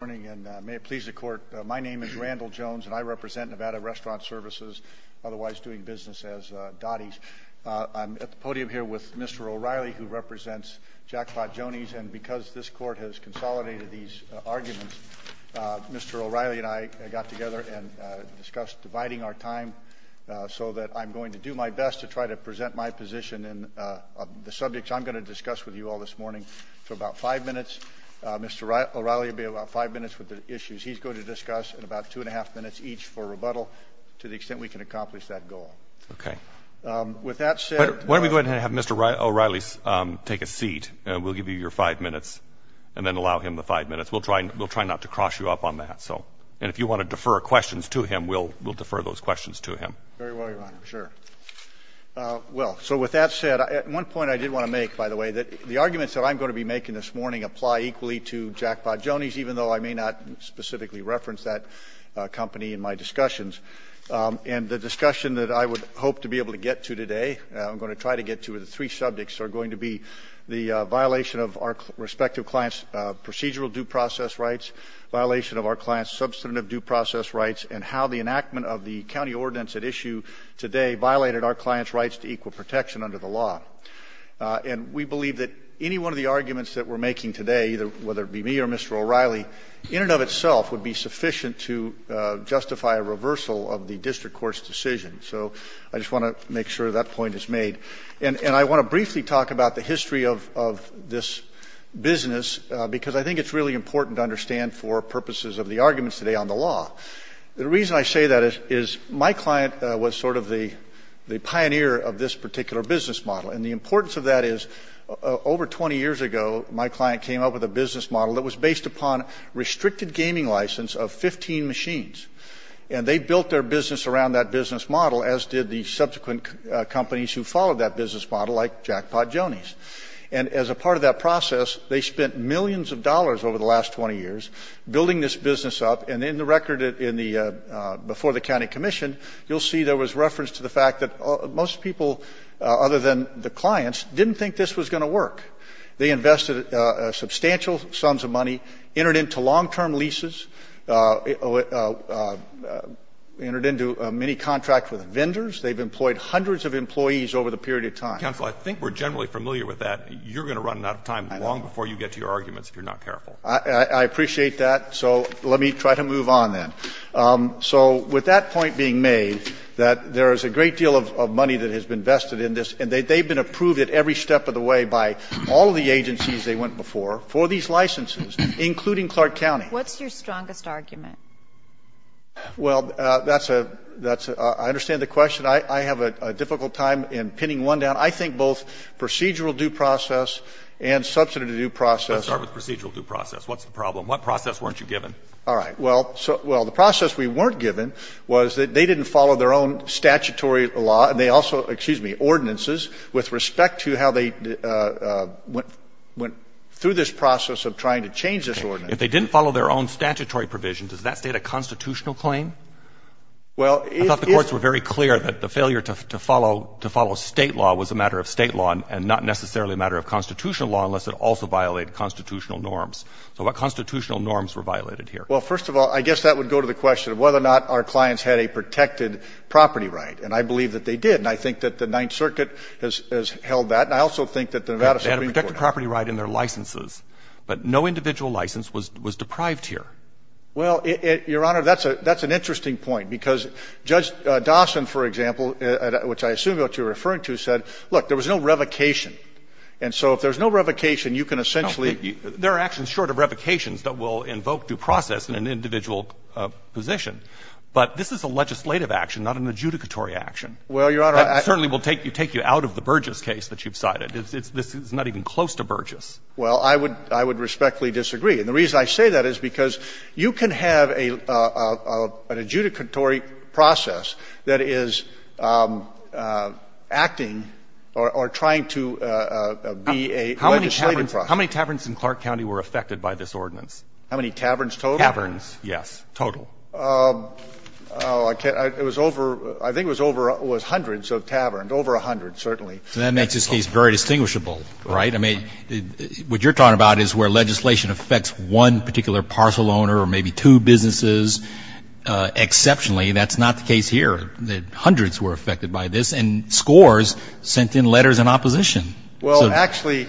Good morning, and may it please the Court, my name is Randall Jones, and I represent Nevada Restaurant Services, otherwise doing business as Dottie's. I'm at the podium here with Mr. O'Reilly, who represents Jackpot Joanie's, and because this Court has consolidated these arguments, Mr. O'Reilly and I got together and discussed dividing our time so that I'm going to do my best to try to present my position in the subjects I'm going to discuss with you all this morning. He's going to discuss in about two and a half minutes each for rebuttal to the extent we can accomplish that goal. Okay. With that said... Why don't we go ahead and have Mr. O'Reilly take a seat, and we'll give you your five minutes, and then allow him the five minutes. We'll try not to cross you up on that, so, and if you want to defer questions to him, we'll defer those questions to him. Very well, Your Honor. Sure. Well, so with that said, at one point I did want to make, by the way, that the arguments that I'm going to be making this morning apply equally to Jackpot Joanie's, even though I may not specifically reference that company in my discussions. And the discussion that I would hope to be able to get to today, I'm going to try to get to, are the three subjects are going to be the violation of our respective clients' procedural due process rights, violation of our clients' substantive due process rights, and how the enactment of the county ordinance at issue today violated our clients' rights to equal protection under the law. And we believe that any one of the arguments that we're making today, whether it be me or Mr. O'Reilly, in and of itself would be sufficient to justify a reversal of the district court's decision. So I just want to make sure that point is made. And I want to briefly talk about the history of this business, because I think it's really important to understand for purposes of the arguments today on the law. The reason I say that is my client was sort of the pioneer of this particular business model. And the importance of that is, over 20 years ago, my client came up with a business model that was based upon restricted gaming license of 15 machines. And they built their business around that business model, as did the subsequent companies who followed that business model, like Jackpot Joanie's. And as a part of that process, they spent millions of dollars over the last 20 years building this business up. And in the record before the county commission, you'll see there was reference to the fact that most people, other than the clients, didn't think this was going to work. They invested substantial sums of money, entered into long-term leases, entered into many contracts with vendors. They've employed hundreds of employees over the period of time. Roberts. Counsel, I think we're generally familiar with that. You're going to run out of time long before you get to your arguments if you're not careful. I appreciate that. So let me try to move on, then. So with that point being made, that there is a great deal of money that has been vested in this, and they've been approved at every step of the way by all of the agencies they went before for these licenses, including Clark County. What's your strongest argument? Well, that's a — I understand the question. I have a difficult time in pinning one down. I think both procedural due process and substantive due process — Let's start with procedural due process. What's the problem? What process weren't you given? All right. Well, the process we weren't given was that they didn't follow their own statutory law, and they also — excuse me — ordinances with respect to how they went through this process of trying to change this ordinance. If they didn't follow their own statutory provision, does that state a constitutional claim? Well, it is — I thought the courts were very clear that the failure to follow — to follow state law was a matter of state law and not necessarily a matter of constitutional law unless it also violated constitutional norms. So what constitutional norms were violated here? Well, first of all, I guess that would go to the question of whether or not our clients had a protected property right. And I believe that they did. And I think that the Ninth Circuit has held that. And I also think that the Nevada Supreme Court — They had a protected property right in their licenses, but no individual license was deprived here. Well, Your Honor, that's an interesting point, because Judge Dawson, for example, which I assume is what you're referring to, said, look, there was no revocation. And so if there's no revocation, you can essentially — Well, there are actions short of revocations that will invoke due process in an individual position. But this is a legislative action, not an adjudicatory action. Well, Your Honor, I — That certainly will take you out of the Burgess case that you've cited. This is not even close to Burgess. Well, I would respectfully disagree. And the reason I say that is because you can have an adjudicatory process that is acting or trying to be a legislative process. How many taverns in Clark County were affected by this ordinance? How many taverns total? Taverns, yes, total. Oh, I can't — it was over — I think it was over — it was hundreds of taverns, over a hundred, certainly. And that makes this case very distinguishable, right? I mean, what you're talking about is where legislation affects one particular parcel owner or maybe two businesses exceptionally. And that's not the case here, that hundreds were affected by this. And scores sent in letters in opposition. Well, actually,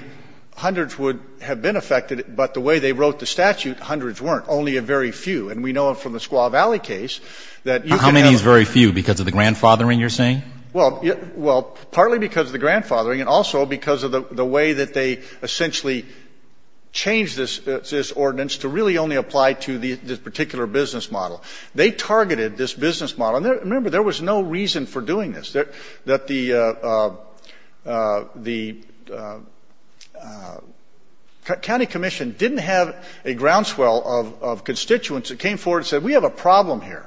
hundreds would have been affected, but the way they wrote the statute, hundreds weren't, only a very few. And we know from the Squaw Valley case that you can have — How many is very few because of the grandfathering you're saying? Well, partly because of the grandfathering and also because of the way that they essentially changed this ordinance to really only apply to this particular business model. They targeted this business model. And remember, there was no reason for doing this, that the County Commission didn't have a groundswell of constituents that came forward and said, we have a problem here.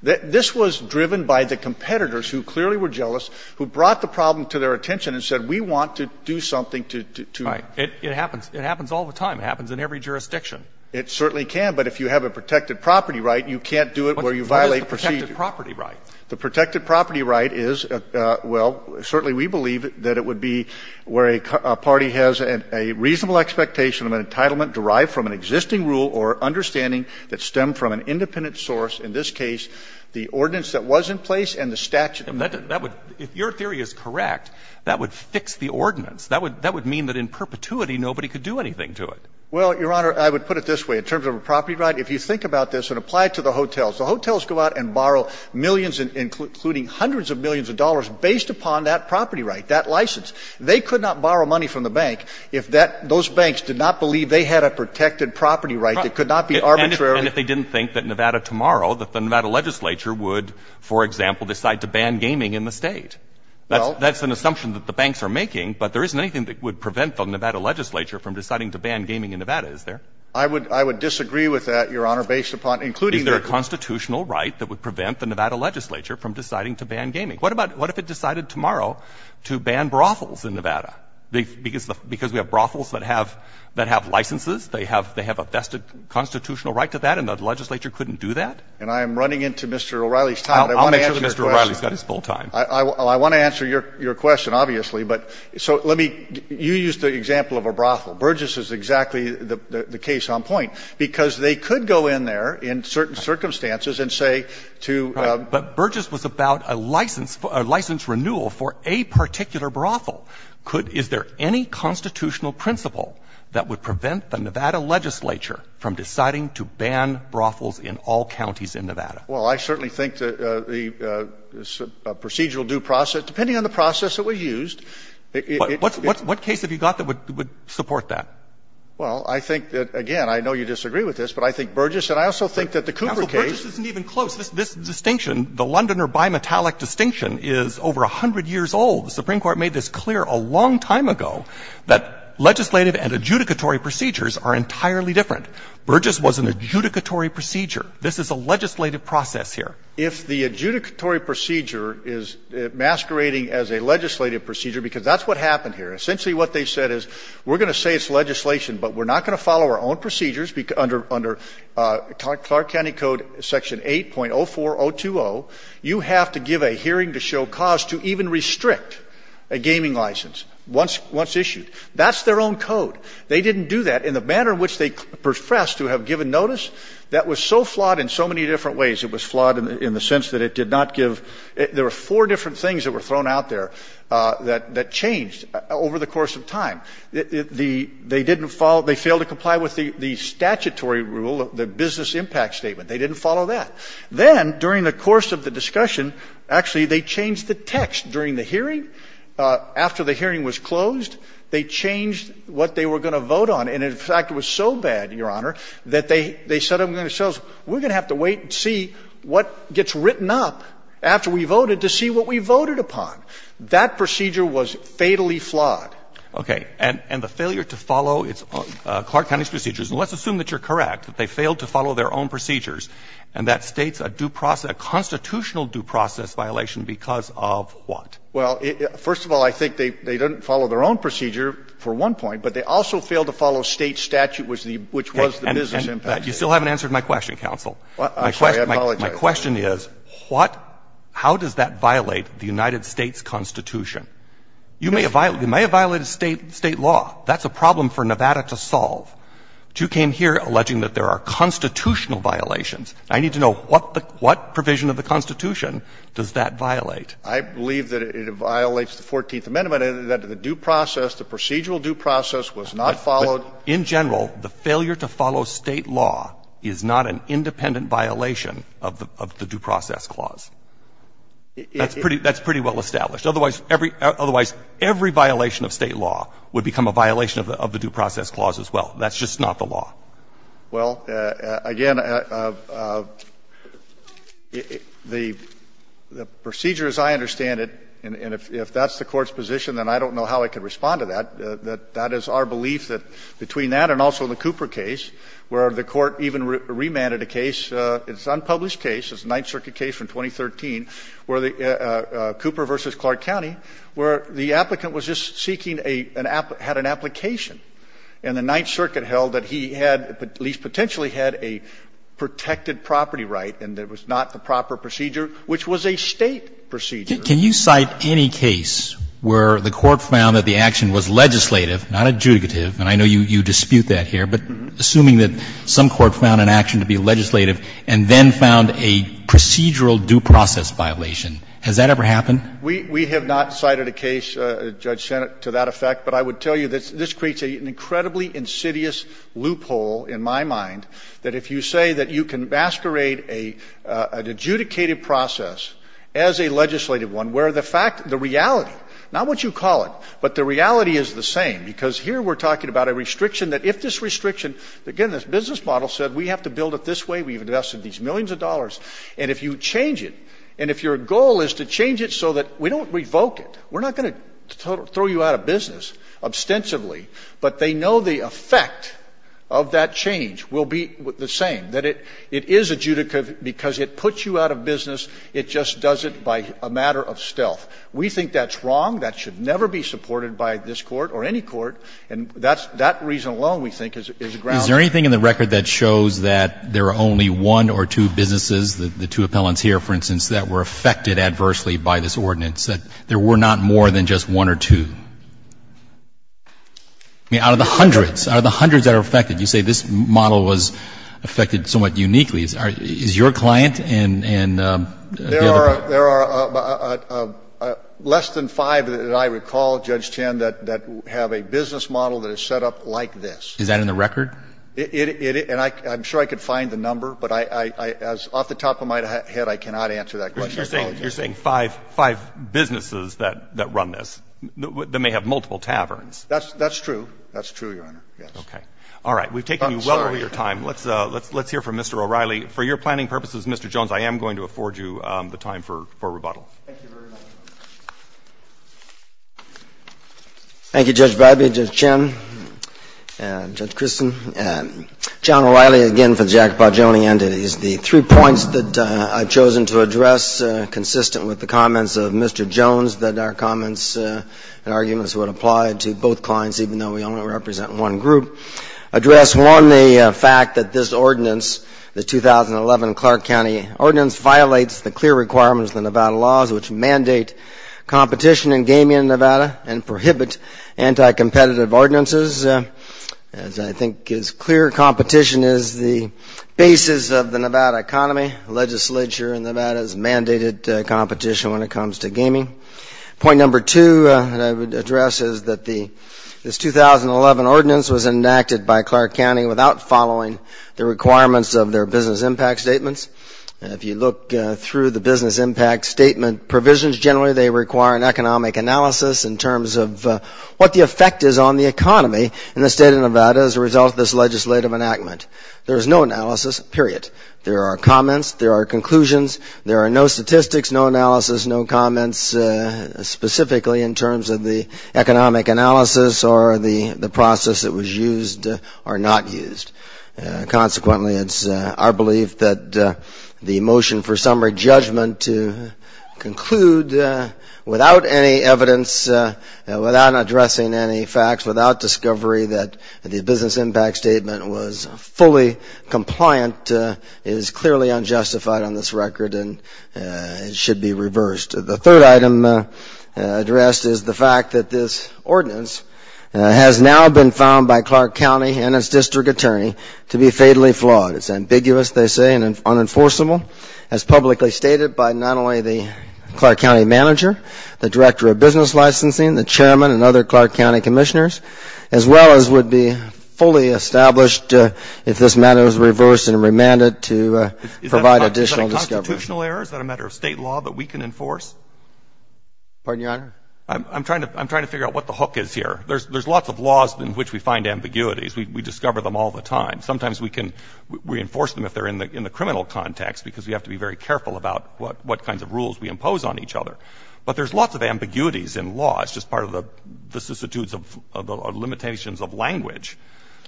This was driven by the competitors who clearly were jealous, who brought the problem to their attention and said, we want to do something to — Right. It happens. It happens all the time. It happens in every jurisdiction. It certainly can. But if you have a protected property right, you can't do it where you violate procedure. What's a protected property right? The protected property right is — well, certainly we believe that it would be where a party has a reasonable expectation of an entitlement derived from an existing rule or understanding that stemmed from an independent source, in this case, the ordinance that was in place and the statute. That would — if your theory is correct, that would fix the ordinance. That would mean that in perpetuity, nobody could do anything to it. Well, Your Honor, I would put it this way. In terms of a property right, if you think about this and apply it to the hotels, the hotels go out and borrow millions, including hundreds of millions of dollars based upon that property right, that license. They could not borrow money from the bank if that — those banks did not believe they had a protected property right. Right. It could not be arbitrary. And if they didn't think that Nevada tomorrow, that the Nevada legislature would, for example, decide to ban gaming in the State? Well — That's an assumption that the banks are making, but there isn't anything that would prevent the Nevada legislature from deciding to ban gaming in Nevada, is there? I would — I would disagree with that, Your Honor, based upon — including — Is there a constitutional right that would prevent the Nevada legislature from deciding to ban gaming? What about — what if it decided tomorrow to ban brothels in Nevada? Because we have brothels that have — that have licenses? They have — they have a vested constitutional right to that, and the legislature couldn't do that? And I am running into Mr. O'Reilly's time, but I want to answer your question. I'll make sure that Mr. O'Reilly's got his full time. I want to answer your question, obviously, but — so let me — you used the example of a brothel. Burgess is exactly the case on point, because they could go in there in certain circumstances and say to — Right. But Burgess was about a license — a license renewal for a particular brothel. Could — is there any constitutional principle that would prevent the Nevada legislature from deciding to ban brothels in all counties in Nevada? Well, I certainly think that the procedural due process — depending on the process that was used — But what case have you got that would support that? Well, I think that, again, I know you disagree with this, but I think Burgess and I also think that the Cooper case — Counsel, Burgess isn't even close. This distinction, the Lundiner bimetallic distinction, is over 100 years old. The Supreme Court made this clear a long time ago, that legislative and adjudicatory procedures are entirely different. Burgess was an adjudicatory procedure. This is a legislative process here. If the adjudicatory procedure is masquerading as a legislative procedure, because that's what happened here. Essentially what they said is, we're going to say it's legislation, but we're not going to follow our own procedures. Under Clark County Code Section 8.04020, you have to give a hearing to show cause to even restrict a gaming license once issued. That's their own code. They didn't do that. In the manner in which they profess to have given notice, that was so flawed in so many different ways. It was flawed in the sense that it did not give — there were four different things that were thrown out there that changed over the course of time. The — they didn't follow — they failed to comply with the statutory rule, the business impact statement. They didn't follow that. Then, during the course of the discussion, actually, they changed the text. During the hearing, after the hearing was closed, they changed what they were going to vote on. And in fact, it was so bad, Your Honor, that they said to themselves, we're going to have to wait and see what gets written up after we voted to see what we voted upon. That procedure was fatally flawed. Okay. And the failure to follow Clark County's procedures, and let's assume that you're correct, that they failed to follow their own procedures, and that states a due process — a constitutional due process violation because of what? Well, first of all, I think they didn't follow their own procedure for one point, but they also failed to follow State statute, which was the business impact statement. You still haven't answered my question, counsel. I'm sorry. I apologize. My question is, what — how does that violate the United States Constitution? You may have violated — you may have violated State law. That's a problem for Nevada to solve. But you came here alleging that there are constitutional violations. I need to know, what provision of the Constitution does that violate? I believe that it violates the 14th Amendment, that the due process, the procedural due process was not followed. In general, the failure to follow State law is not an independent violation of the due process clause. That's pretty well established. Otherwise, every violation of State law would become a violation of the due process clause as well. That's just not the law. Well, again, the procedure as I understand it, and if that's the Court's position, then I don't know how it could respond to that. That is our belief that between that and also the Cooper case, where the Court even remanded a case, it's an unpublished case, it's a Ninth Circuit case from 2013, where the — Cooper v. Clark County, where the applicant was just seeking a — had an application. And the Ninth Circuit held that he had, at least potentially had, a protected property right, and it was not the proper procedure, which was a State procedure. Can you cite any case where the Court found that the action was legislative, not adjudicative, and I know you dispute that here, but assuming that some court found an action to be legislative and then found a procedural due process violation, has that ever happened? We have not cited a case, Judge Sennott, to that effect. But I would tell you that this creates an incredibly insidious loophole in my mind, that if you say that you can masquerade an adjudicated process as a legislative one, where the fact — the reality — not what you call it, but the reality is the same, because here we're talking about a restriction that if this restriction — again, this business model said we have to build it this way, we've invested these millions of dollars, and if you change it, and if your goal is to change it so that we don't revoke it, we're not going to throw you out of business, ostensibly, but they know the effect of that change will be the same, that it is adjudicative because it puts you out of business, it just does it by a matter of stealth. We think that's wrong. That should never be supported by this Court or any court, and that's — that reason alone, we think, is a grounder. Is there anything in the record that shows that there are only one or two businesses, the two appellants here, for instance, that were affected adversely by this ordinance, that there were not more than just one or two? I mean, out of the hundreds, out of the hundreds that are affected, you say this model was affected somewhat uniquely. Is your client and the other — There are less than five that I recall, Judge Chen, that have a business model that is set up like this. Is that in the record? It — and I'm sure I could find the number, but I — off the top of my head, I cannot answer that question. I apologize. You're saying five — five businesses that run this, that may have multiple taverns. That's true. That's true, Your Honor. Okay. All right. We've taken you well over your time. Let's hear from Mr. O'Reilly. For your planning purposes, Mr. Jones, I am going to afford you the time for rebuttal. Thank you very much. Thank you, Judge Bradby, Judge Chen, and Judge Christen. John O'Reilly again for the Jacoba-Joni entities. The three points that I've chosen to address, consistent with the comments of Mr. Jones that our comments and arguments would apply to both clients, even though we only represent one group, address, one, the fact that this ordinance, the 2011 Clark County Ordinance, violates the clear requirements of the Nevada laws, which mandate competition in gaming in Nevada and prohibit anti-competitive ordinances. As I think is clear, competition is the basis of the Nevada economy. Legislature in Nevada has mandated competition when it comes to gaming. Point number two that I would address is that this 2011 ordinance was enacted by Clark County without following the requirements of their business impact statements. If you look through the business impact statement provisions, generally they require an economic analysis in terms of what the effect is on the economy in the state of Nevada as a result of this legislative enactment. There's no analysis, period. There are comments, there are conclusions. There are no statistics, no analysis, no comments specifically in terms of the economic analysis or the process that was used or not used. Consequently, it's our belief that the motion for summary judgment to conclude without any evidence, without addressing any facts, without discovery that the business impact statement was fully compliant is clearly unjustified on this record and should be reversed. The third item addressed is the fact that this ordinance has now been found by Clark County and its district attorney to be fatally flawed. It's ambiguous, they say, and unenforceable. As publicly stated by not only the Clark County manager, the director of business licensing, the chairman and other Clark County commissioners, as well as would be fully established if this matter was reversed and remanded to provide additional discovery. Is that a constitutional error? Is that a matter of state law that we can enforce? Pardon, Your Honor? I'm trying to figure out what the hook is here. There's lots of laws in which we find ambiguities. We discover them all the time. Sometimes we can reinforce them if they're in the criminal context because we have to be very careful about what kinds of rules we impose on each other. But there's lots of ambiguities in law. It's just part of the substitutes of the limitations of language.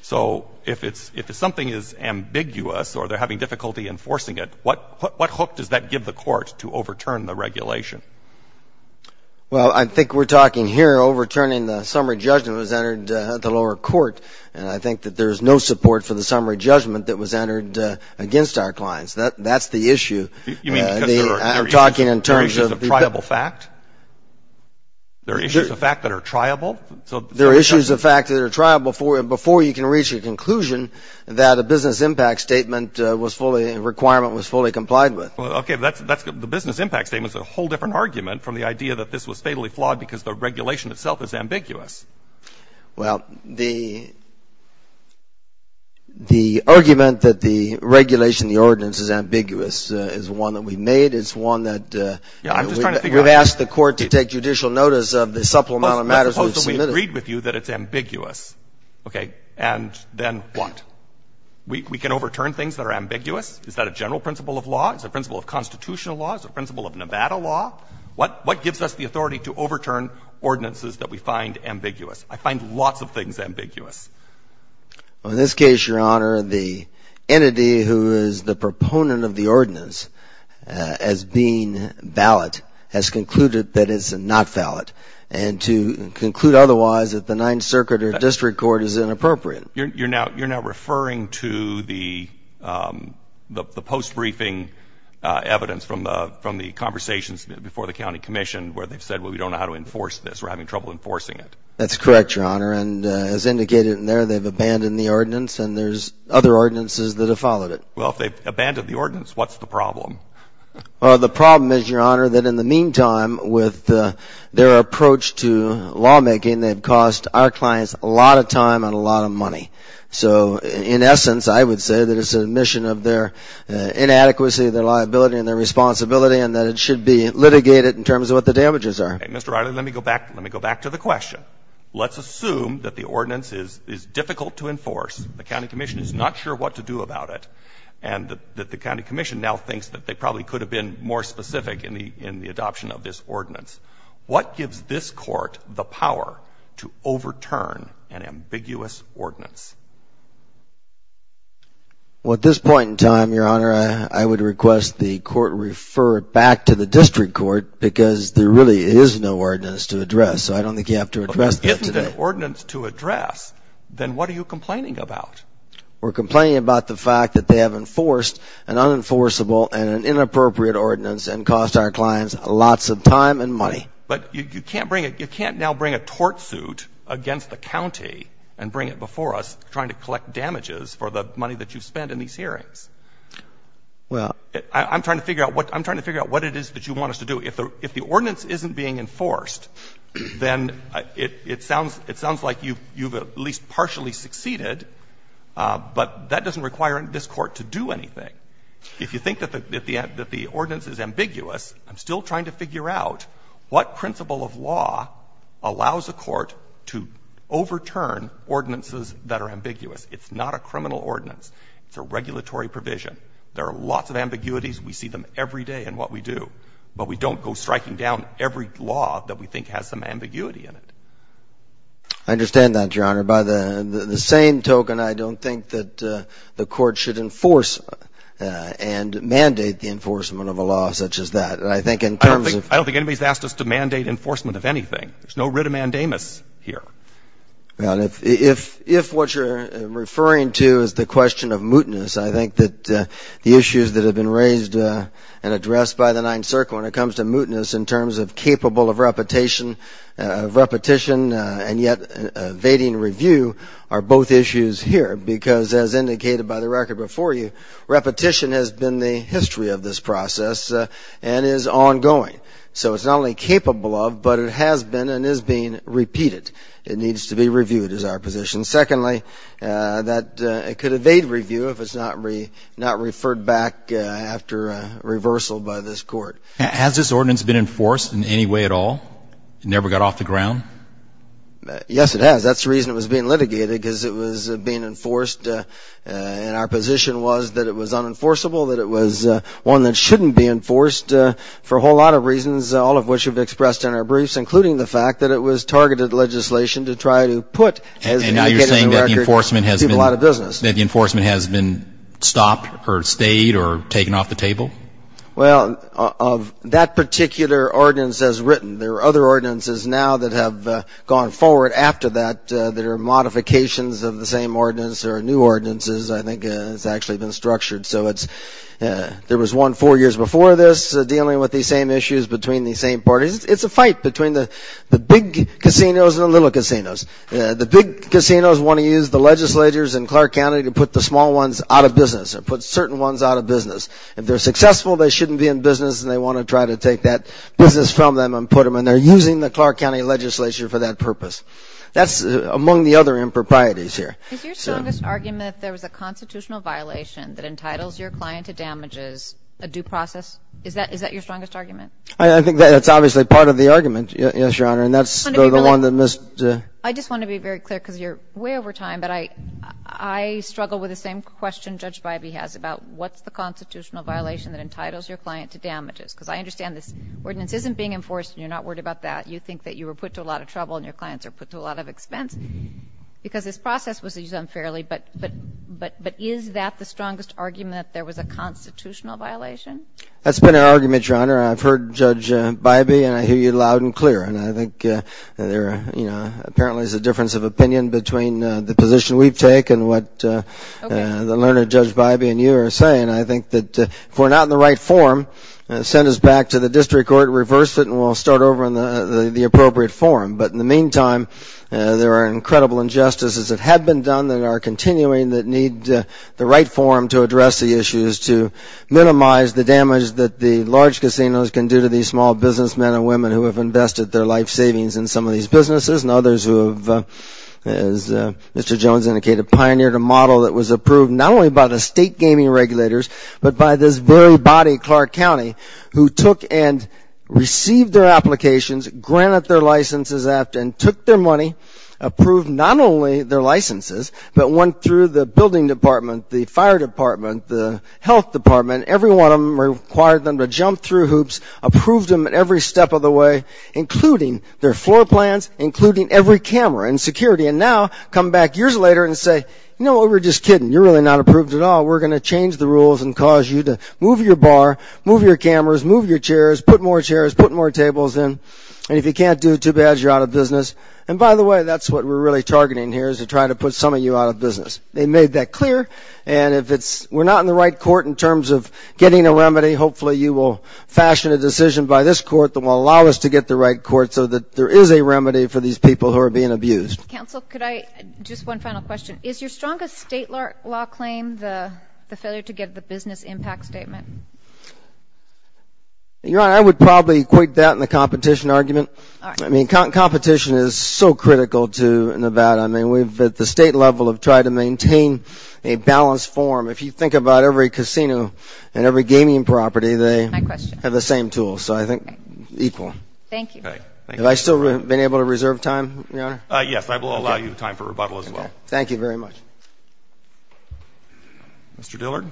So if something is ambiguous or they're having difficulty enforcing it, what hook does that give the court to overturn the regulation? Well, I think we're talking here overturning the summary judgment that was entered at the lower court. And I think that there's no support for the summary judgment that was entered against our clients. That's the issue. You mean because there are issues of triable fact? There are issues of fact that are triable? There are issues of fact that are triable before you can reach a conclusion that a business impact statement was fully, a requirement was fully complied with. Well, okay, the business impact statement is a whole different argument from the idea that this was fatally flawed because the regulation itself is ambiguous. Well, the argument that the regulation, the ordinance is ambiguous is one that we made. It's one that we've asked the court to take judicial notice of the supplemental matters we've submitted. Well, suppose that we agreed with you that it's ambiguous, okay, and then what? We can overturn things that are ambiguous? Is that a general principle of law? Is it a principle of constitutional law? Is it a principle of Nevada law? What gives us the authority to overturn ordinances that we find ambiguous? I find lots of things ambiguous. Well, in this case, your honor, the entity who is the proponent of the ordinance as being valid has concluded that it's not valid. And to conclude otherwise at the Ninth Circuit or district court is inappropriate. You're now referring to the post-briefing evidence from the conversations before the county commission where they've said, well, we don't know how to enforce this. We're having trouble enforcing it. That's correct, your honor. And as indicated in there, they've abandoned the ordinance and there's other ordinances that have followed it. Well, if they've abandoned the ordinance, what's the problem? Well, the problem is, your honor, that in the meantime, with their approach to lawmaking, they've cost our clients a lot of time and a lot of money. So in essence, I would say that it's an admission of their inadequacy, their liability, and their responsibility, and that it should be litigated in terms of what the damages are. Mr. Riley, let me go back to the question. Let's assume that the ordinance is difficult to enforce. The county commission is not sure what to do about it. And that the county commission now thinks that they probably could have been more specific in the adoption of this ordinance. What gives this court the power to overturn an ambiguous ordinance? Well, at this point in time, your honor, I would request the court refer it back to the district court because there really is no ordinance to address. So I don't think you have to address that today. If there isn't an ordinance to address, then what are you complaining about? We're complaining about the fact that they have enforced an unenforceable and an inappropriate ordinance and cost our clients lots of time and money. But you can't now bring a tort suit against the county and bring it before us trying to collect damages for the money that you've spent in these hearings. Well. I'm trying to figure out what it is that you want us to do. If the ordinance isn't being enforced, then it sounds like you've at least partially succeeded, but that doesn't require this court to do anything. If you think that the ordinance is ambiguous, I'm still trying to figure out what principle of law allows a court to overturn ordinances that are ambiguous. It's not a criminal ordinance. It's a regulatory provision. There are lots of ambiguities. We see them every day in what we do, but we don't go striking down every law that we think has some ambiguity in it. I understand that, your honor. By the same token, I don't think that the court should enforce and mandate the enforcement of a law such as that. I don't think anybody's asked us to mandate enforcement of anything. There's no writ of mandamus here. If what you're referring to is the question of mootness, I think that the issues that have been raised and addressed by the Ninth Circle when it comes to mootness in terms of capable of repetition and yet evading review are both issues here, because as indicated by the record before you, repetition has been the history of this process and is ongoing. So it's not only capable of, but it has been and is being repeated. It needs to be reviewed is our position. Secondly, it could evade review if it's not referred back after reversal by this court. Has this ordinance been enforced in any way at all? It never got off the ground? Yes, it has. That's the reason it was being litigated, because it was being enforced, and our position was that it was unenforceable, that it was one that shouldn't be enforced for a whole lot of reasons, all of which we've expressed in our briefs, including the fact that it was targeted legislation to try to put, as indicated in the record, people out of business. And you're saying that the enforcement has been stopped or stayed or taken off the table? Well, of that particular ordinance as written, there are other ordinances now that have gone forward after that that are modifications of the same ordinance or new ordinances, I think it's actually been structured. So there was one four years before this dealing with these same issues between these same parties. It's a fight between the big casinos and the little casinos. The big casinos want to use the legislators in Clark County to put the small ones out of business or put certain ones out of business. If they're successful, they shouldn't be in business, and they want to try to take that business from them and put them, and they're using the Clark County legislature for that purpose. That's among the other improprieties here. Is your strongest argument that there was a constitutional violation that entitles your client to damages, a due process? Is that your strongest argument? I think that's obviously part of the argument, yes, Your Honor, and that's the one that Ms. I just want to be very clear because you're way over time, but I struggle with the same question Judge Bybee has about what's the constitutional violation that entitles your client to damages, because I understand this ordinance isn't being enforced and you're not worried about that. You think that you were put to a lot of trouble and your clients are put to a lot of expense because this process was used unfairly, but is that the strongest argument that there was a constitutional violation? That's been our argument, Your Honor. I've heard Judge Bybee and I hear you loud and clear, and I think there apparently is a difference of opinion between the position we've taken and what the learned Judge Bybee and you are saying. I think that if we're not in the right form, send us back to the district court, reverse it, and we'll start over in the appropriate form. But in the meantime, there are incredible injustices that have been done that are continuing that need the right form to address the issues, to minimize the damage that the large casinos can do to these small businessmen and women who have invested their life savings in some of these businesses, and others who have, as Mr. Jones indicated, pioneered a model that was approved not only by the state gaming regulators, but by this very body, Clark County, who took and received their applications, granted their licenses, and took their money, approved not only their licenses, but went through the building department, the fire department, the health department, every one of them required them to jump through hoops, approved them every step of the way, including their floor plans, including every camera and security, and now come back years later and say, you know, we were just kidding. You're really not approved at all. We're going to change the rules and cause you to move your bar, move your cameras, move your chairs, put more chairs, put more tables in, and if you can't do it too bad, you're out of business. And by the way, that's what we're really targeting here, is to try to put some of you out of business. They made that clear, and if it's we're not in the right court in terms of getting a remedy, hopefully you will fashion a decision by this court that will allow us to get the right court so that there is a remedy for these people who are being abused. Counsel, could I just one final question. Is your strongest state law claim the failure to get the business impact statement? Your Honor, I would probably equate that in the competition argument. I mean, competition is so critical to Nevada. I mean, we've at the state level have tried to maintain a balanced form. If you think about every casino and every gaming property, they have the same tools, so I think equal. Thank you. Have I still been able to reserve time, Your Honor? Yes, I will allow you time for rebuttal as well. Thank you very much. Mr. Dillard.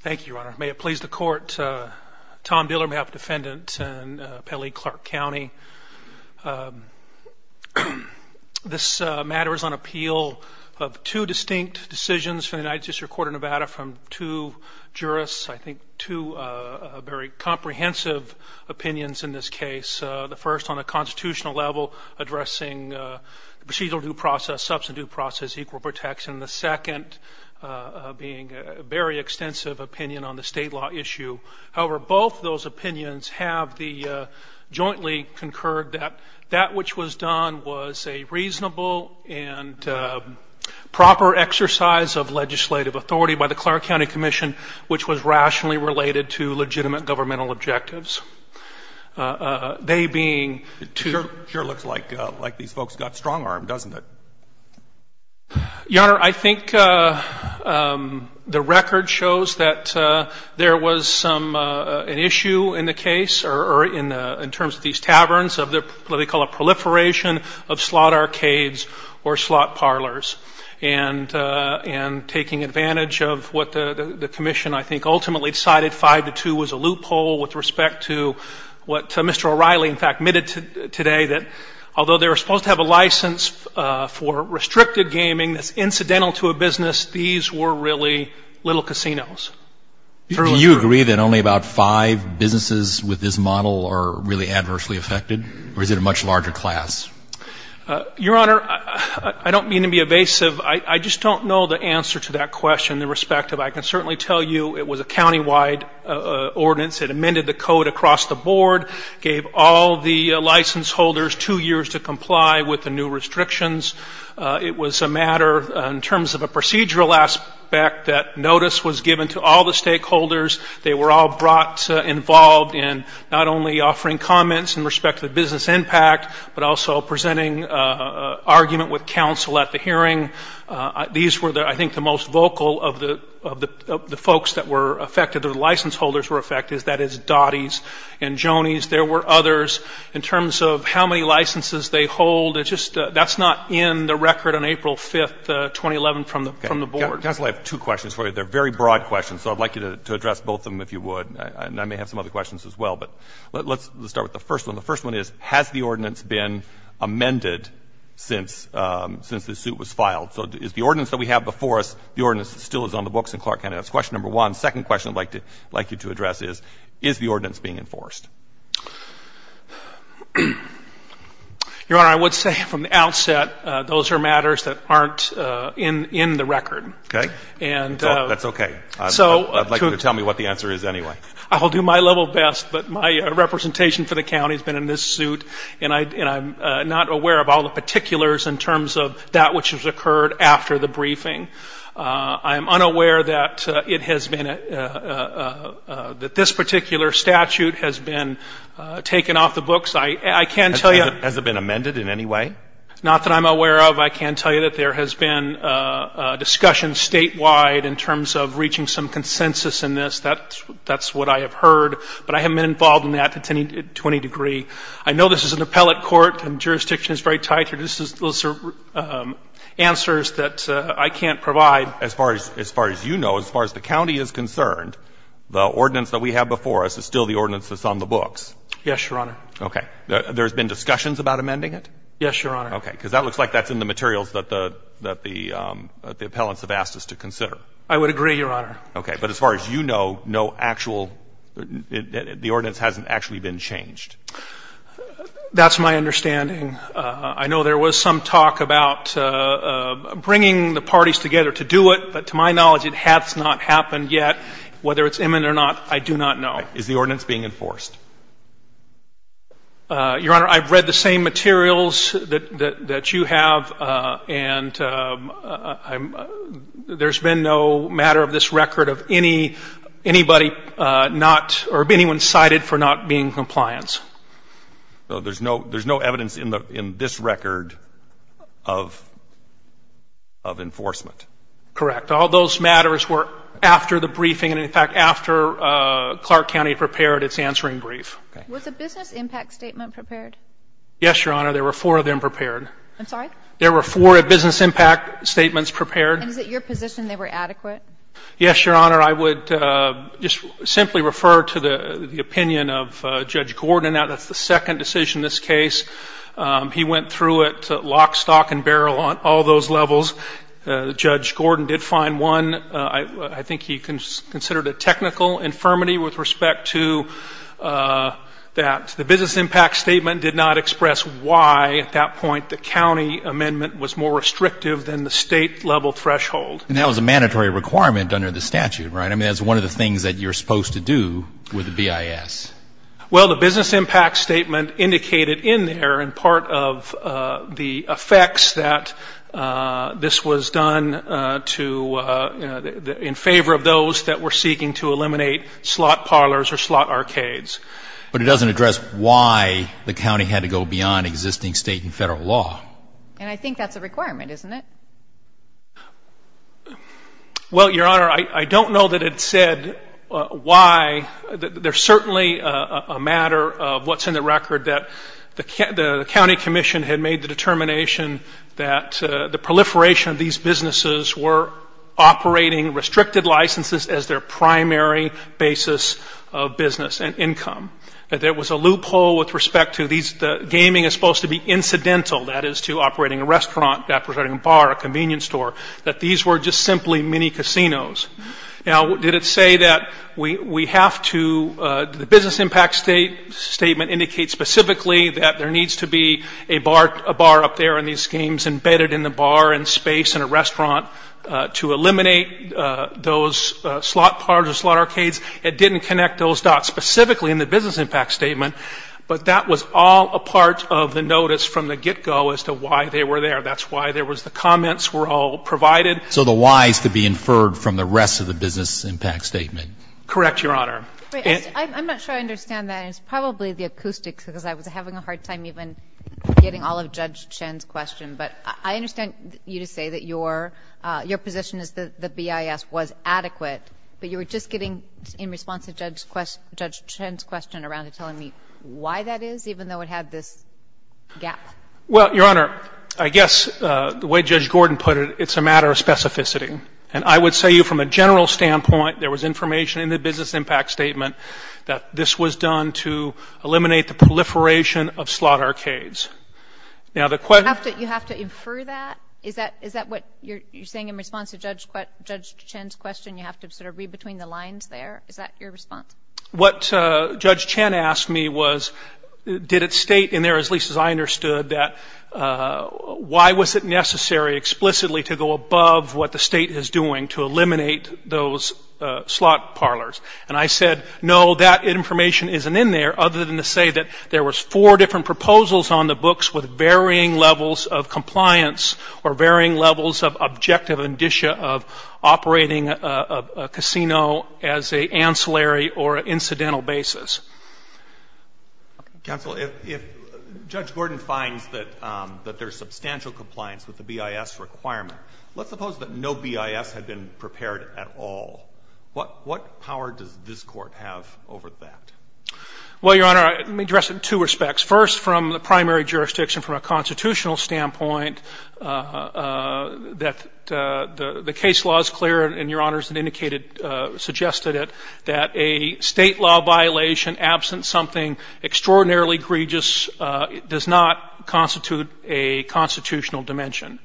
Thank you, Your Honor. May it please the Court, Tom Dillard on behalf of the defendant in Pele Clark County. This matter is on appeal of two distinct decisions from the United States Court of Nevada from two jurists, I think two very comprehensive opinions in this case. The first on a constitutional level addressing the procedural due process, substantive due process, equal protection. The second being a very extensive opinion on the state law issue. However, both those opinions have jointly concurred that that which was done was a reasonable and proper exercise of legislative authority by the Clark County Commission, which was rationally related to legitimate governmental objectives. They being two of them. It sure looks like these folks got strong-armed, doesn't it? Your Honor, I think the record shows that there was an issue in the case or in terms of these taverns, of what they call a proliferation of slot arcades or slot parlors. And taking advantage of what the commission, I think, ultimately decided five to two was a loophole with respect to what Mr. O'Reilly, in fact, admitted today, that although they were supposed to have a license for restricted gaming that's incidental to a business, these were really little casinos. Do you agree that only about five businesses with this model are really adversely affected, or is it a much larger class? Your Honor, I don't mean to be evasive. I just don't know the answer to that question in respect to it. I can certainly tell you it was a countywide ordinance. It amended the code across the board, gave all the license holders two years to comply with the new restrictions. It was a matter in terms of a procedural aspect that notice was given to all the stakeholders. They were all brought involved in not only offering comments in respect to the business impact, but also presenting an argument with counsel at the hearing. These were, I think, the most vocal of the folks that were affected or the license holders were affected, that is, Dottie's and Jonie's. There were others. In terms of how many licenses they hold, that's not in the record on April 5th, 2011, from the board. Counsel, I have two questions for you. They're very broad questions, so I'd like you to address both of them if you would. And I may have some other questions as well. But let's start with the first one. The first one is, has the ordinance been amended since the suit was filed? So is the ordinance that we have before us, the ordinance still is on the books in Clark County. That's question number one. Second question I'd like you to address is, is the ordinance being enforced? Your Honor, I would say from the outset those are matters that aren't in the record. Okay. That's okay. I'd like you to tell me what the answer is anyway. I'll do my level best, but my representation for the county has been in this suit, and I'm not aware of all the particulars in terms of that which has occurred after the briefing. I am unaware that it has been, that this particular statute has been taken off the books. I can't tell you. Has it been amended in any way? Not that I'm aware of. I can tell you that there has been discussion statewide in terms of reaching some consensus in this. That's what I have heard. But I haven't been involved in that to any degree. I know this is an appellate court, and jurisdiction is very tight here. Those are answers that I can't provide. As far as you know, as far as the county is concerned, the ordinance that we have before us is still the ordinance that's on the books. Yes, Your Honor. Okay. There has been discussions about amending it? Yes, Your Honor. Okay. Because that looks like that's in the materials that the appellants have asked us to consider. I would agree, Your Honor. Okay. But as far as you know, no actual, the ordinance hasn't actually been changed. That's my understanding. I know there was some talk about bringing the parties together to do it, but to my knowledge it has not happened yet. Whether it's imminent or not, I do not know. Is the ordinance being enforced? Your Honor, I've read the same materials that you have, and there's been no matter of this record of anybody not, or of anyone cited for not being in compliance. There's no evidence in this record of enforcement. Correct. All those matters were after the briefing, and, in fact, after Clark County prepared its answering brief. Was a business impact statement prepared? Yes, Your Honor. There were four of them prepared. I'm sorry? There were four business impact statements prepared. And is it your position they were adequate? Yes, Your Honor. Your Honor, I would just simply refer to the opinion of Judge Gordon. That's the second decision in this case. He went through it lock, stock, and barrel on all those levels. Judge Gordon did find one. I think he considered a technical infirmity with respect to that. The business impact statement did not express why, at that point, the county amendment was more restrictive than the state-level threshold. And that was a mandatory requirement under the statute, right? I mean, that's one of the things that you're supposed to do with the BIS. Well, the business impact statement indicated in there in part of the effects that this was done to, in favor of those that were seeking to eliminate slot parlors or slot arcades. But it doesn't address why the county had to go beyond existing state and federal law. And I think that's a requirement, isn't it? Well, Your Honor, I don't know that it said why. There's certainly a matter of what's in the record that the county commission had made the determination that the proliferation of these businesses were operating restricted licenses as their primary basis of business and income. That there was a loophole with respect to these gaming is supposed to be incidental, that is to operating a restaurant, operating a bar, a convenience store. That these were just simply mini casinos. Now, did it say that we have to, the business impact statement indicates specifically that there needs to be a bar up there and these games embedded in the bar and space in a restaurant to eliminate those slot parlors or slot arcades. It didn't connect those dots specifically in the business impact statement, but that was all a part of the notice from the get-go as to why they were there. That's why there was the comments were all provided. So the why's could be inferred from the rest of the business impact statement. Correct, Your Honor. I'm not sure I understand that. It's probably the acoustics because I was having a hard time even getting all of Judge Shen's questions. But I understand you to say that your position is that the BIS was adequate, but you were just getting in response to Judge Shen's question around to telling me why that is, even though it had this gap. Well, Your Honor, I guess the way Judge Gordon put it, it's a matter of specificity. And I would say from a general standpoint, there was information in the business impact statement that this was done to eliminate the proliferation of slot arcades. Now, the question You have to infer that? Is that what you're saying in response to Judge Shen's question? You have to sort of read between the lines there? Is that your response? What Judge Shen asked me was, did it state in there, at least as I understood, that why was it necessary explicitly to go above what the state is doing to eliminate those slot parlors? And I said, no, that information isn't in there, other than to say that there was four different proposals on the books with varying levels of compliance or varying levels of objective indicia of operating a casino as an ancillary or incidental basis. Counsel, if Judge Gordon finds that there's substantial compliance with the BIS requirement, let's suppose that no BIS had been prepared at all. What power does this Court have over that? Well, Your Honor, let me address it in two respects. First, from the primary jurisdiction, from a constitutional standpoint, that the case law is clear, and Your Honor has indicated, suggested it, that a state law violation absent something extraordinarily egregious does not constitute a constitutional dimension.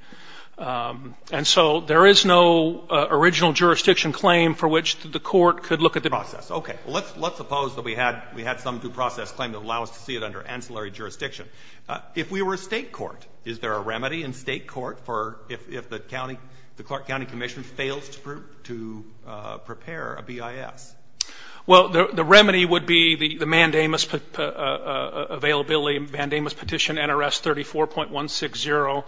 And so there is no original jurisdiction claim for which the Court could look at the process. Okay. Well, let's suppose that we had some due process claim that would allow us to see it under ancillary jurisdiction. If we were a state court, is there a remedy in state court for if the county, the Clark County Commission fails to prepare a BIS? Well, the remedy would be the mandamus availability, the mandamus petition, NRS 34.160.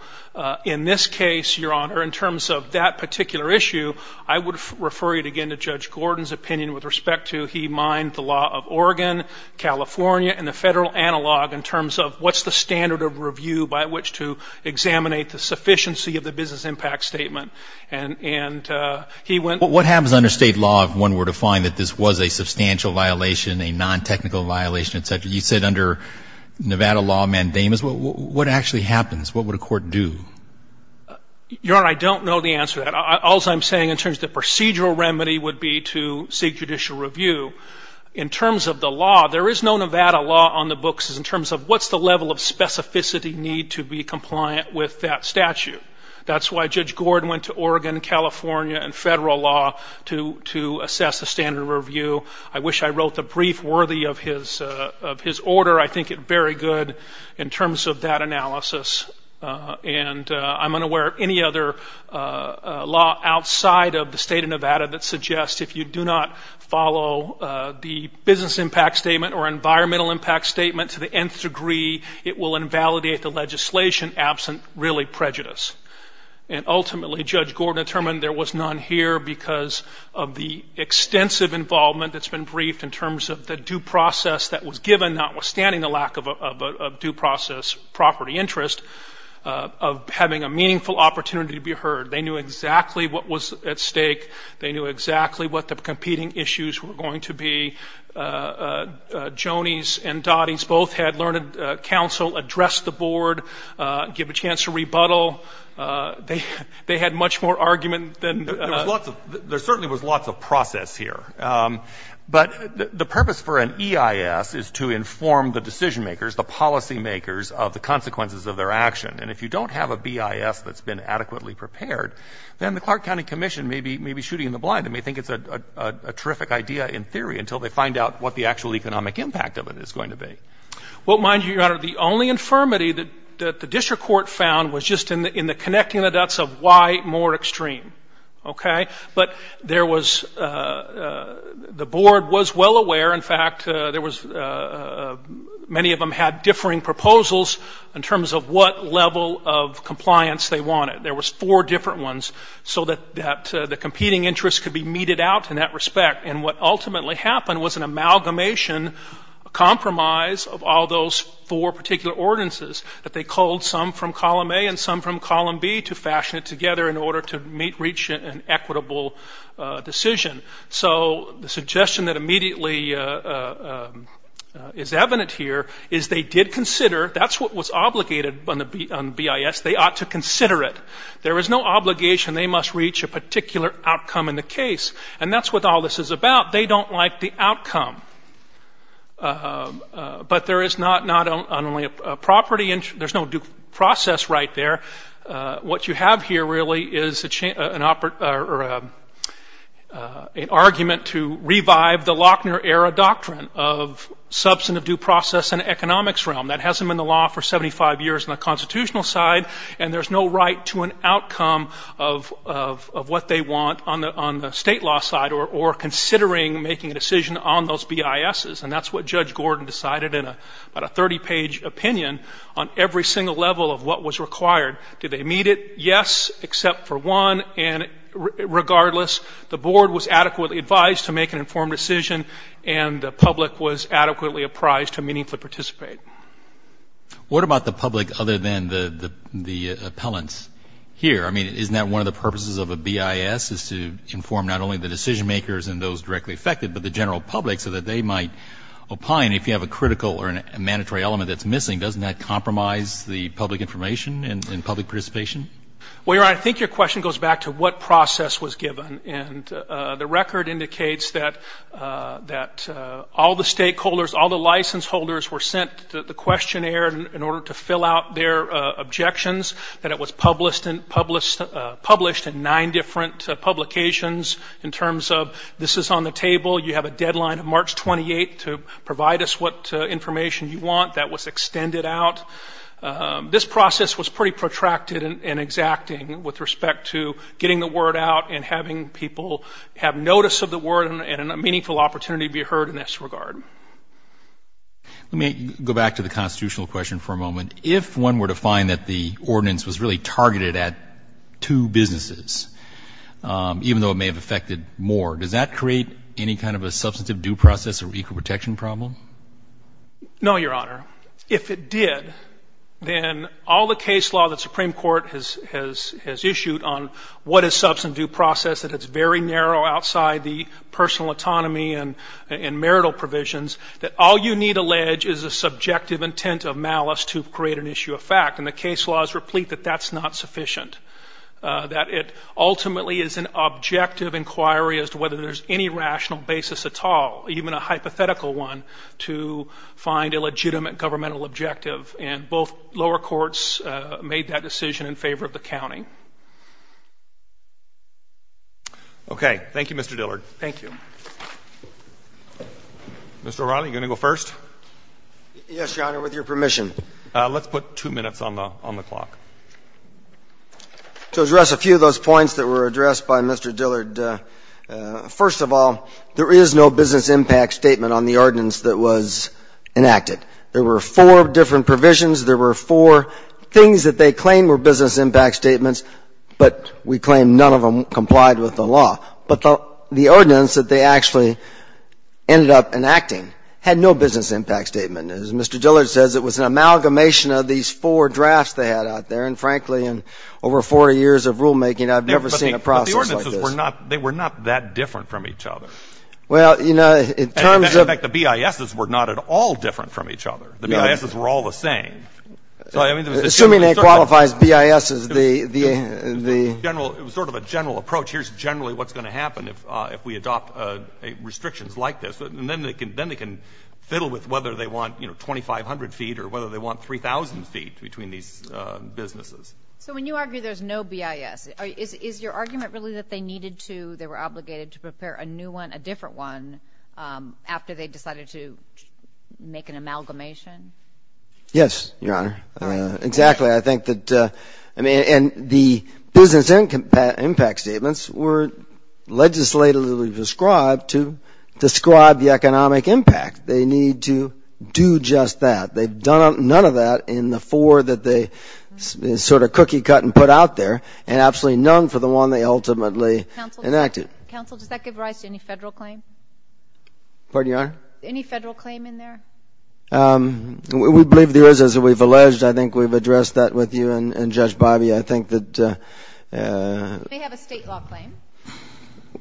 In this case, Your Honor, in terms of that particular issue, I would refer you, again, to Judge Gordon's opinion with respect to he mined the law of Oregon, California, and the Federal analog in terms of what's the standard of review by which to examinate the sufficiency of the BIS impact statement. And he went to the state court. What happens under state law if one were to find that this was a substantial violation, a nontechnical violation, et cetera? You said under Nevada law, mandamus. What actually happens? What would a court do? Your Honor, I don't know the answer to that. All I'm saying in terms of the procedural remedy would be to seek judicial review. In terms of the law, there is no Nevada law on the books in terms of what's the level of specificity need to be compliant with that statute. That's why Judge Gordon went to Oregon, California, and Federal law to assess the standard of review. I wish I wrote the brief worthy of his order. I think it's very good in terms of that analysis. And I'm unaware of any other law outside of the state of Nevada that suggests if you do not follow the business impact statement or environmental impact statement to the nth degree, it will invalidate the legislation absent really prejudice. And ultimately, Judge Gordon determined there was none here because of the extensive involvement that's been briefed in terms of the due process that was given, notwithstanding the lack of due process property interest, of having a meaningful opportunity to be heard. They knew exactly what was at stake. They knew exactly what the competing issues were going to be. Joni's and Dottie's both had learned counsel, addressed the board, give a chance to rebuttal. They had much more argument than ---- Well, there certainly was lots of process here. But the purpose for an EIS is to inform the decision makers, the policy makers, of the consequences of their action. And if you don't have a BIS that's been adequately prepared, then the Clark County Commission may be shooting in the blind. They may think it's a terrific idea in theory until they find out what the actual economic impact of it is going to be. Well, mind you, Your Honor, the only infirmity that the district court found was just in the connecting the dots of why more extreme. Okay? But there was ---- the board was well aware. In fact, there was ---- many of them had differing proposals in terms of what level of compliance they wanted. There was four different ones so that the competing interests could be meted out in that respect. And what ultimately happened was an amalgamation, a compromise of all those four particular ordinances that they culled some from column A and some from column B to fashion it together in order to reach an equitable decision. So the suggestion that immediately is evident here is they did consider ---- that's what was obligated on the BIS. They ought to consider it. There was no obligation they must reach a particular outcome in the case. And that's what all this is about. They don't like the outcome. But there is not only a property ---- there's no due process right there. What you have here really is an argument to revive the Lochner era doctrine of substantive due process in economics realm. That hasn't been the law for 75 years on the constitutional side, and there's no right to an outcome of what they want on the state law side or considering making a decision on those BISs. And that's what Judge Gordon decided in about a 30-page opinion on every single level of what was required. Did they meet it? Yes, except for one. And regardless, the board was adequately advised to make an informed decision, and the public was adequately apprised to meaningfully participate. What about the public other than the appellants here? I mean, isn't that one of the purposes of a BIS is to inform not only the decision makers and those directly affected, but the general public so that they might opine if you have a critical or a mandatory element that's missing? Doesn't that compromise the public information and public participation? Well, Your Honor, I think your question goes back to what process was given. And the record indicates that all the stakeholders, all the license holders, were sent the questionnaire in order to fill out their objections, that it was published in nine different publications. In terms of this is on the table, you have a deadline of March 28th to provide us what information you want. That was extended out. This process was pretty protracted and exacting with respect to getting the word out and having people have notice of the word and a meaningful opportunity to be heard in this regard. Let me go back to the constitutional question for a moment. If one were to find that the ordinance was really targeted at two businesses, even though it may have affected more, does that create any kind of a substantive due process or equal protection problem? No, Your Honor. If it did, then all the case law that the Supreme Court has issued on what is substantive due process, that it's very narrow outside the personal autonomy and marital provisions, that all you need to allege is a subjective intent of malice to create an issue of fact. And the case laws replete that that's not sufficient, that it ultimately is an objective inquiry as to whether there's any rational basis at all, even a hypothetical one, to find a legitimate governmental objective. And both lower courts made that decision in favor of the county. Okay. Thank you, Mr. Dillard. Thank you. Mr. O'Reilly, are you going to go first? Yes, Your Honor, with your permission. Let's put two minutes on the clock. To address a few of those points that were addressed by Mr. Dillard, first of all, there is no business impact statement on the ordinance that was enacted. There were four different provisions. There were four things that they claimed were business impact statements, but we claim none of them complied with the law. But the ordinance that they actually ended up enacting had no business impact statement. As Mr. Dillard says, it was an amalgamation of these four drafts they had out there. And, frankly, in over 40 years of rulemaking, I've never seen a process like this. They were not that different from each other. Well, you know, in terms of the BISs were not at all different from each other. The BISs were all the same. Assuming it qualifies BISs, the — It was sort of a general approach. Here's generally what's going to happen if we adopt restrictions like this. And then they can fiddle with whether they want, you know, 2,500 feet or whether they want 3,000 feet between these businesses. So when you argue there's no BIS, is your argument really that they needed to, they were obligated to prepare a new one, a different one, after they decided to make an amalgamation? Yes, Your Honor. Exactly. I think that — and the business impact statements were legislatively described to describe the economic impact. They need to do just that. They've done none of that in the four that they sort of cookie-cut and put out there and absolutely none for the one they ultimately enacted. Counsel, does that give rise to any federal claim? Pardon, Your Honor? Any federal claim in there? We believe there is, as we've alleged. I think we've addressed that with you and Judge Bobbie. I think that — We may have a state law claim.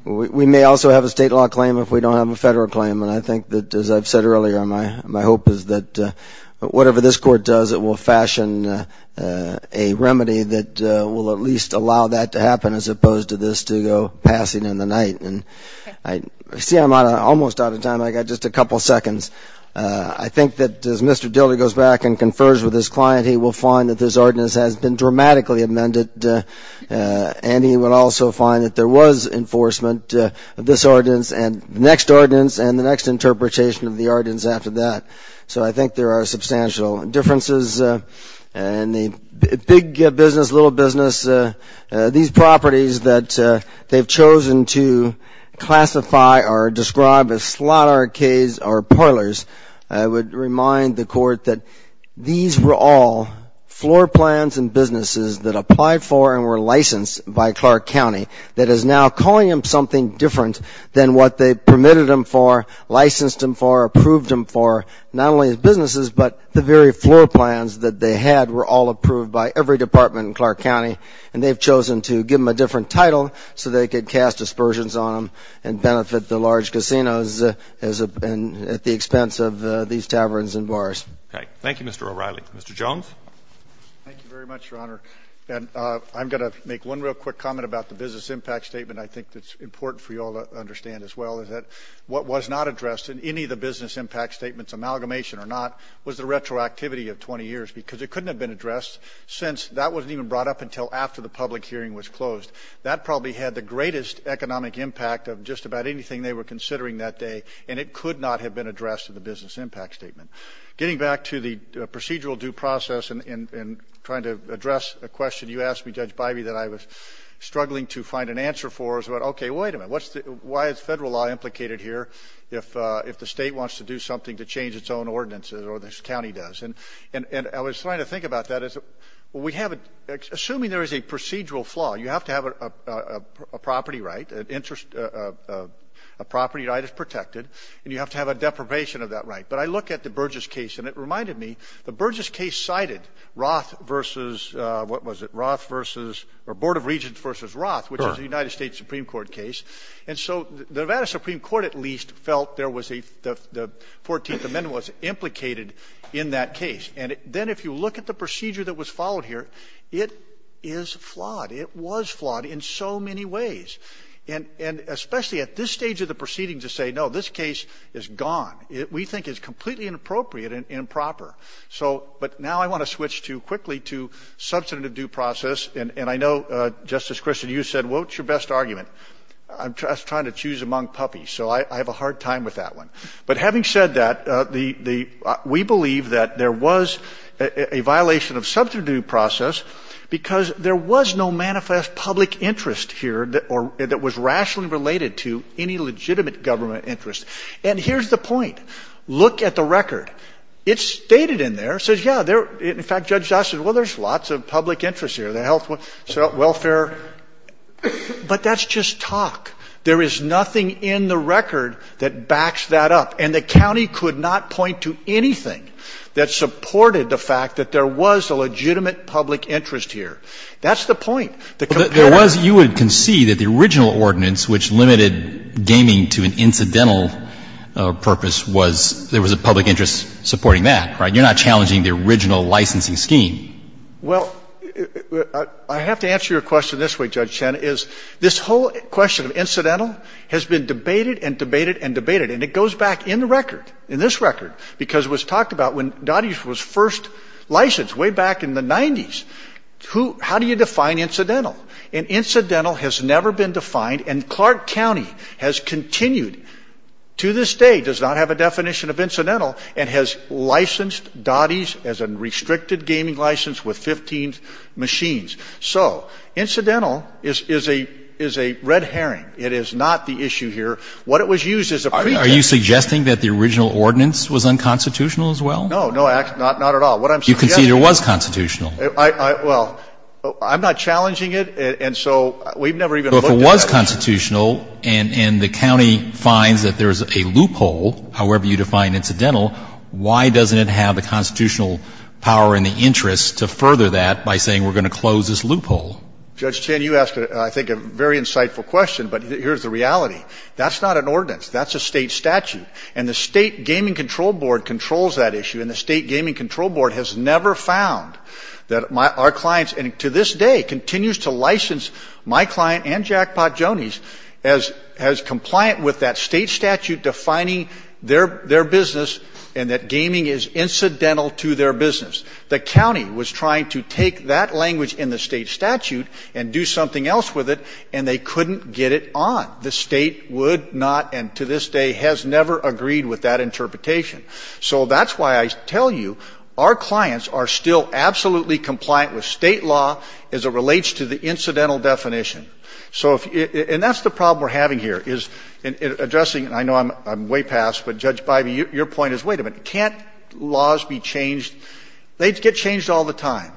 We may also have a state law claim if we don't have a federal claim. And I think that, as I've said earlier, my hope is that whatever this court does, it will fashion a remedy that will at least allow that to happen as opposed to this to go passing in the night. I see I'm almost out of time. I've got just a couple seconds. I think that as Mr. Dilley goes back and confers with his client, he will find that this ordinance has been dramatically amended and he will also find that there was enforcement of this ordinance and the next ordinance and the next interpretation of the ordinance after that. So I think there are substantial differences. And the big business, little business, these properties that they've chosen to classify or describe as slot arcades or parlors, I would remind the Court that these were all floor plans and businesses that applied for and were licensed by Clark County that is now calling them something different than what they permitted them for, licensed them for, approved them for, not only as businesses, but the very floor plans that they had were all approved by every department in Clark County. And they've chosen to give them a different title so they could cast dispersions on them and benefit the large casinos at the expense of these taverns and bars. Okay. Thank you, Mr. O'Reilly. Mr. Jones. Thank you very much, Your Honor. And I'm going to make one real quick comment about the business impact statement. I think it's important for you all to understand as well is that what was not addressed in any of the business impact statements, amalgamation or not, was the retroactivity of 20 years because it couldn't have been addressed since that wasn't even brought up until after the public hearing was closed. That probably had the greatest economic impact of just about anything they were considering that day, and it could not have been addressed in the business impact statement. Getting back to the procedural due process and trying to address a question you asked me, Judge Bivey, that I was struggling to find an answer for is, okay, wait a minute, why is federal law implicated here if the state wants to do something to change its own ordinances or this county does? And I was trying to think about that. Assuming there is a procedural flaw, you have to have a property right, a property right is protected, and you have to have a deprivation of that right. But I look at the Burgess case and it reminded me, the Burgess case cited Roth versus, what was it, Roth versus, or Board of Regents versus Roth, which is a United States Supreme Court case. And so the Nevada Supreme Court at least felt there was a, the 14th Amendment was implicated in that case. And then if you look at the procedure that was followed here, it is flawed. It was flawed in so many ways. And especially at this stage of the proceeding to say, no, this case is gone. We think it's completely inappropriate and improper. So, but now I want to switch to, quickly, to substantive due process. And I know, Justice Christian, you said, what's your best argument? I'm trying to choose among puppies, so I have a hard time with that one. But having said that, the, we believe that there was a violation of substantive due process because there was no manifest public interest here that was rationally related to any legitimate government interest. And here's the point. Look at the record. It's stated in there. It says, yeah, there, in fact, Judge Jost said, well, there's lots of public interest here, the health, welfare. But that's just talk. There is nothing in the record that backs that up. And the county could not point to anything that supported the fact that there was a legitimate public interest here. That's the point. The competitive. Because you would concede that the original ordinance, which limited gaming to an incidental purpose, was there was a public interest supporting that, right? You're not challenging the original licensing scheme. Well, I have to answer your question this way, Judge Chen, is this whole question of incidental has been debated and debated and debated. And it goes back in the record, in this record, because it was talked about when Dottie was first licensed, way back in the 90s. Who, how do you define incidental? And incidental has never been defined. And Clark County has continued to this day, does not have a definition of incidental, and has licensed Dottie's as a restricted gaming license with 15 machines. So incidental is a red herring. It is not the issue here. What it was used as a pretext. Are you suggesting that the original ordinance was unconstitutional as well? No, no, not at all. What I'm suggesting is. You concede it was constitutional. Well, I'm not challenging it. And so we've never even looked at it. But if it was constitutional and the county finds that there's a loophole, however you define incidental, why doesn't it have the constitutional power and the interest to further that by saying we're going to close this loophole? Judge Chen, you ask, I think, a very insightful question. But here's the reality. That's not an ordinance. That's a state statute. And the State Gaming Control Board controls that issue. And the State Gaming Control Board has never found that our clients, and to this day, continues to license my client and Jackpot Joanie's as compliant with that state statute defining their business and that gaming is incidental to their business. The county was trying to take that language in the state statute and do something else with it, and they couldn't get it on. The state would not and to this day has never agreed with that interpretation. So that's why I tell you our clients are still absolutely compliant with state law as it relates to the incidental definition. So if you – and that's the problem we're having here, is addressing – and I know I'm way past, but, Judge Bybee, your point is, wait a minute, can't laws be changed – they get changed all the time.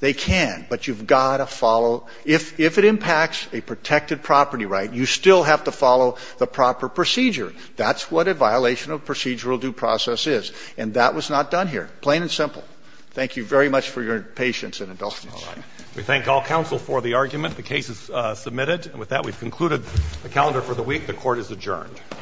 They can. But you've got to follow – if it impacts a protected property right, you still have to follow the proper procedure. That's what a violation of procedural due process is. And that was not done here. Plain and simple. Thank you very much for your patience and indulgence. We thank all counsel for the argument. The case is submitted. And with that, we've concluded the calendar for the week. The Court is adjourned.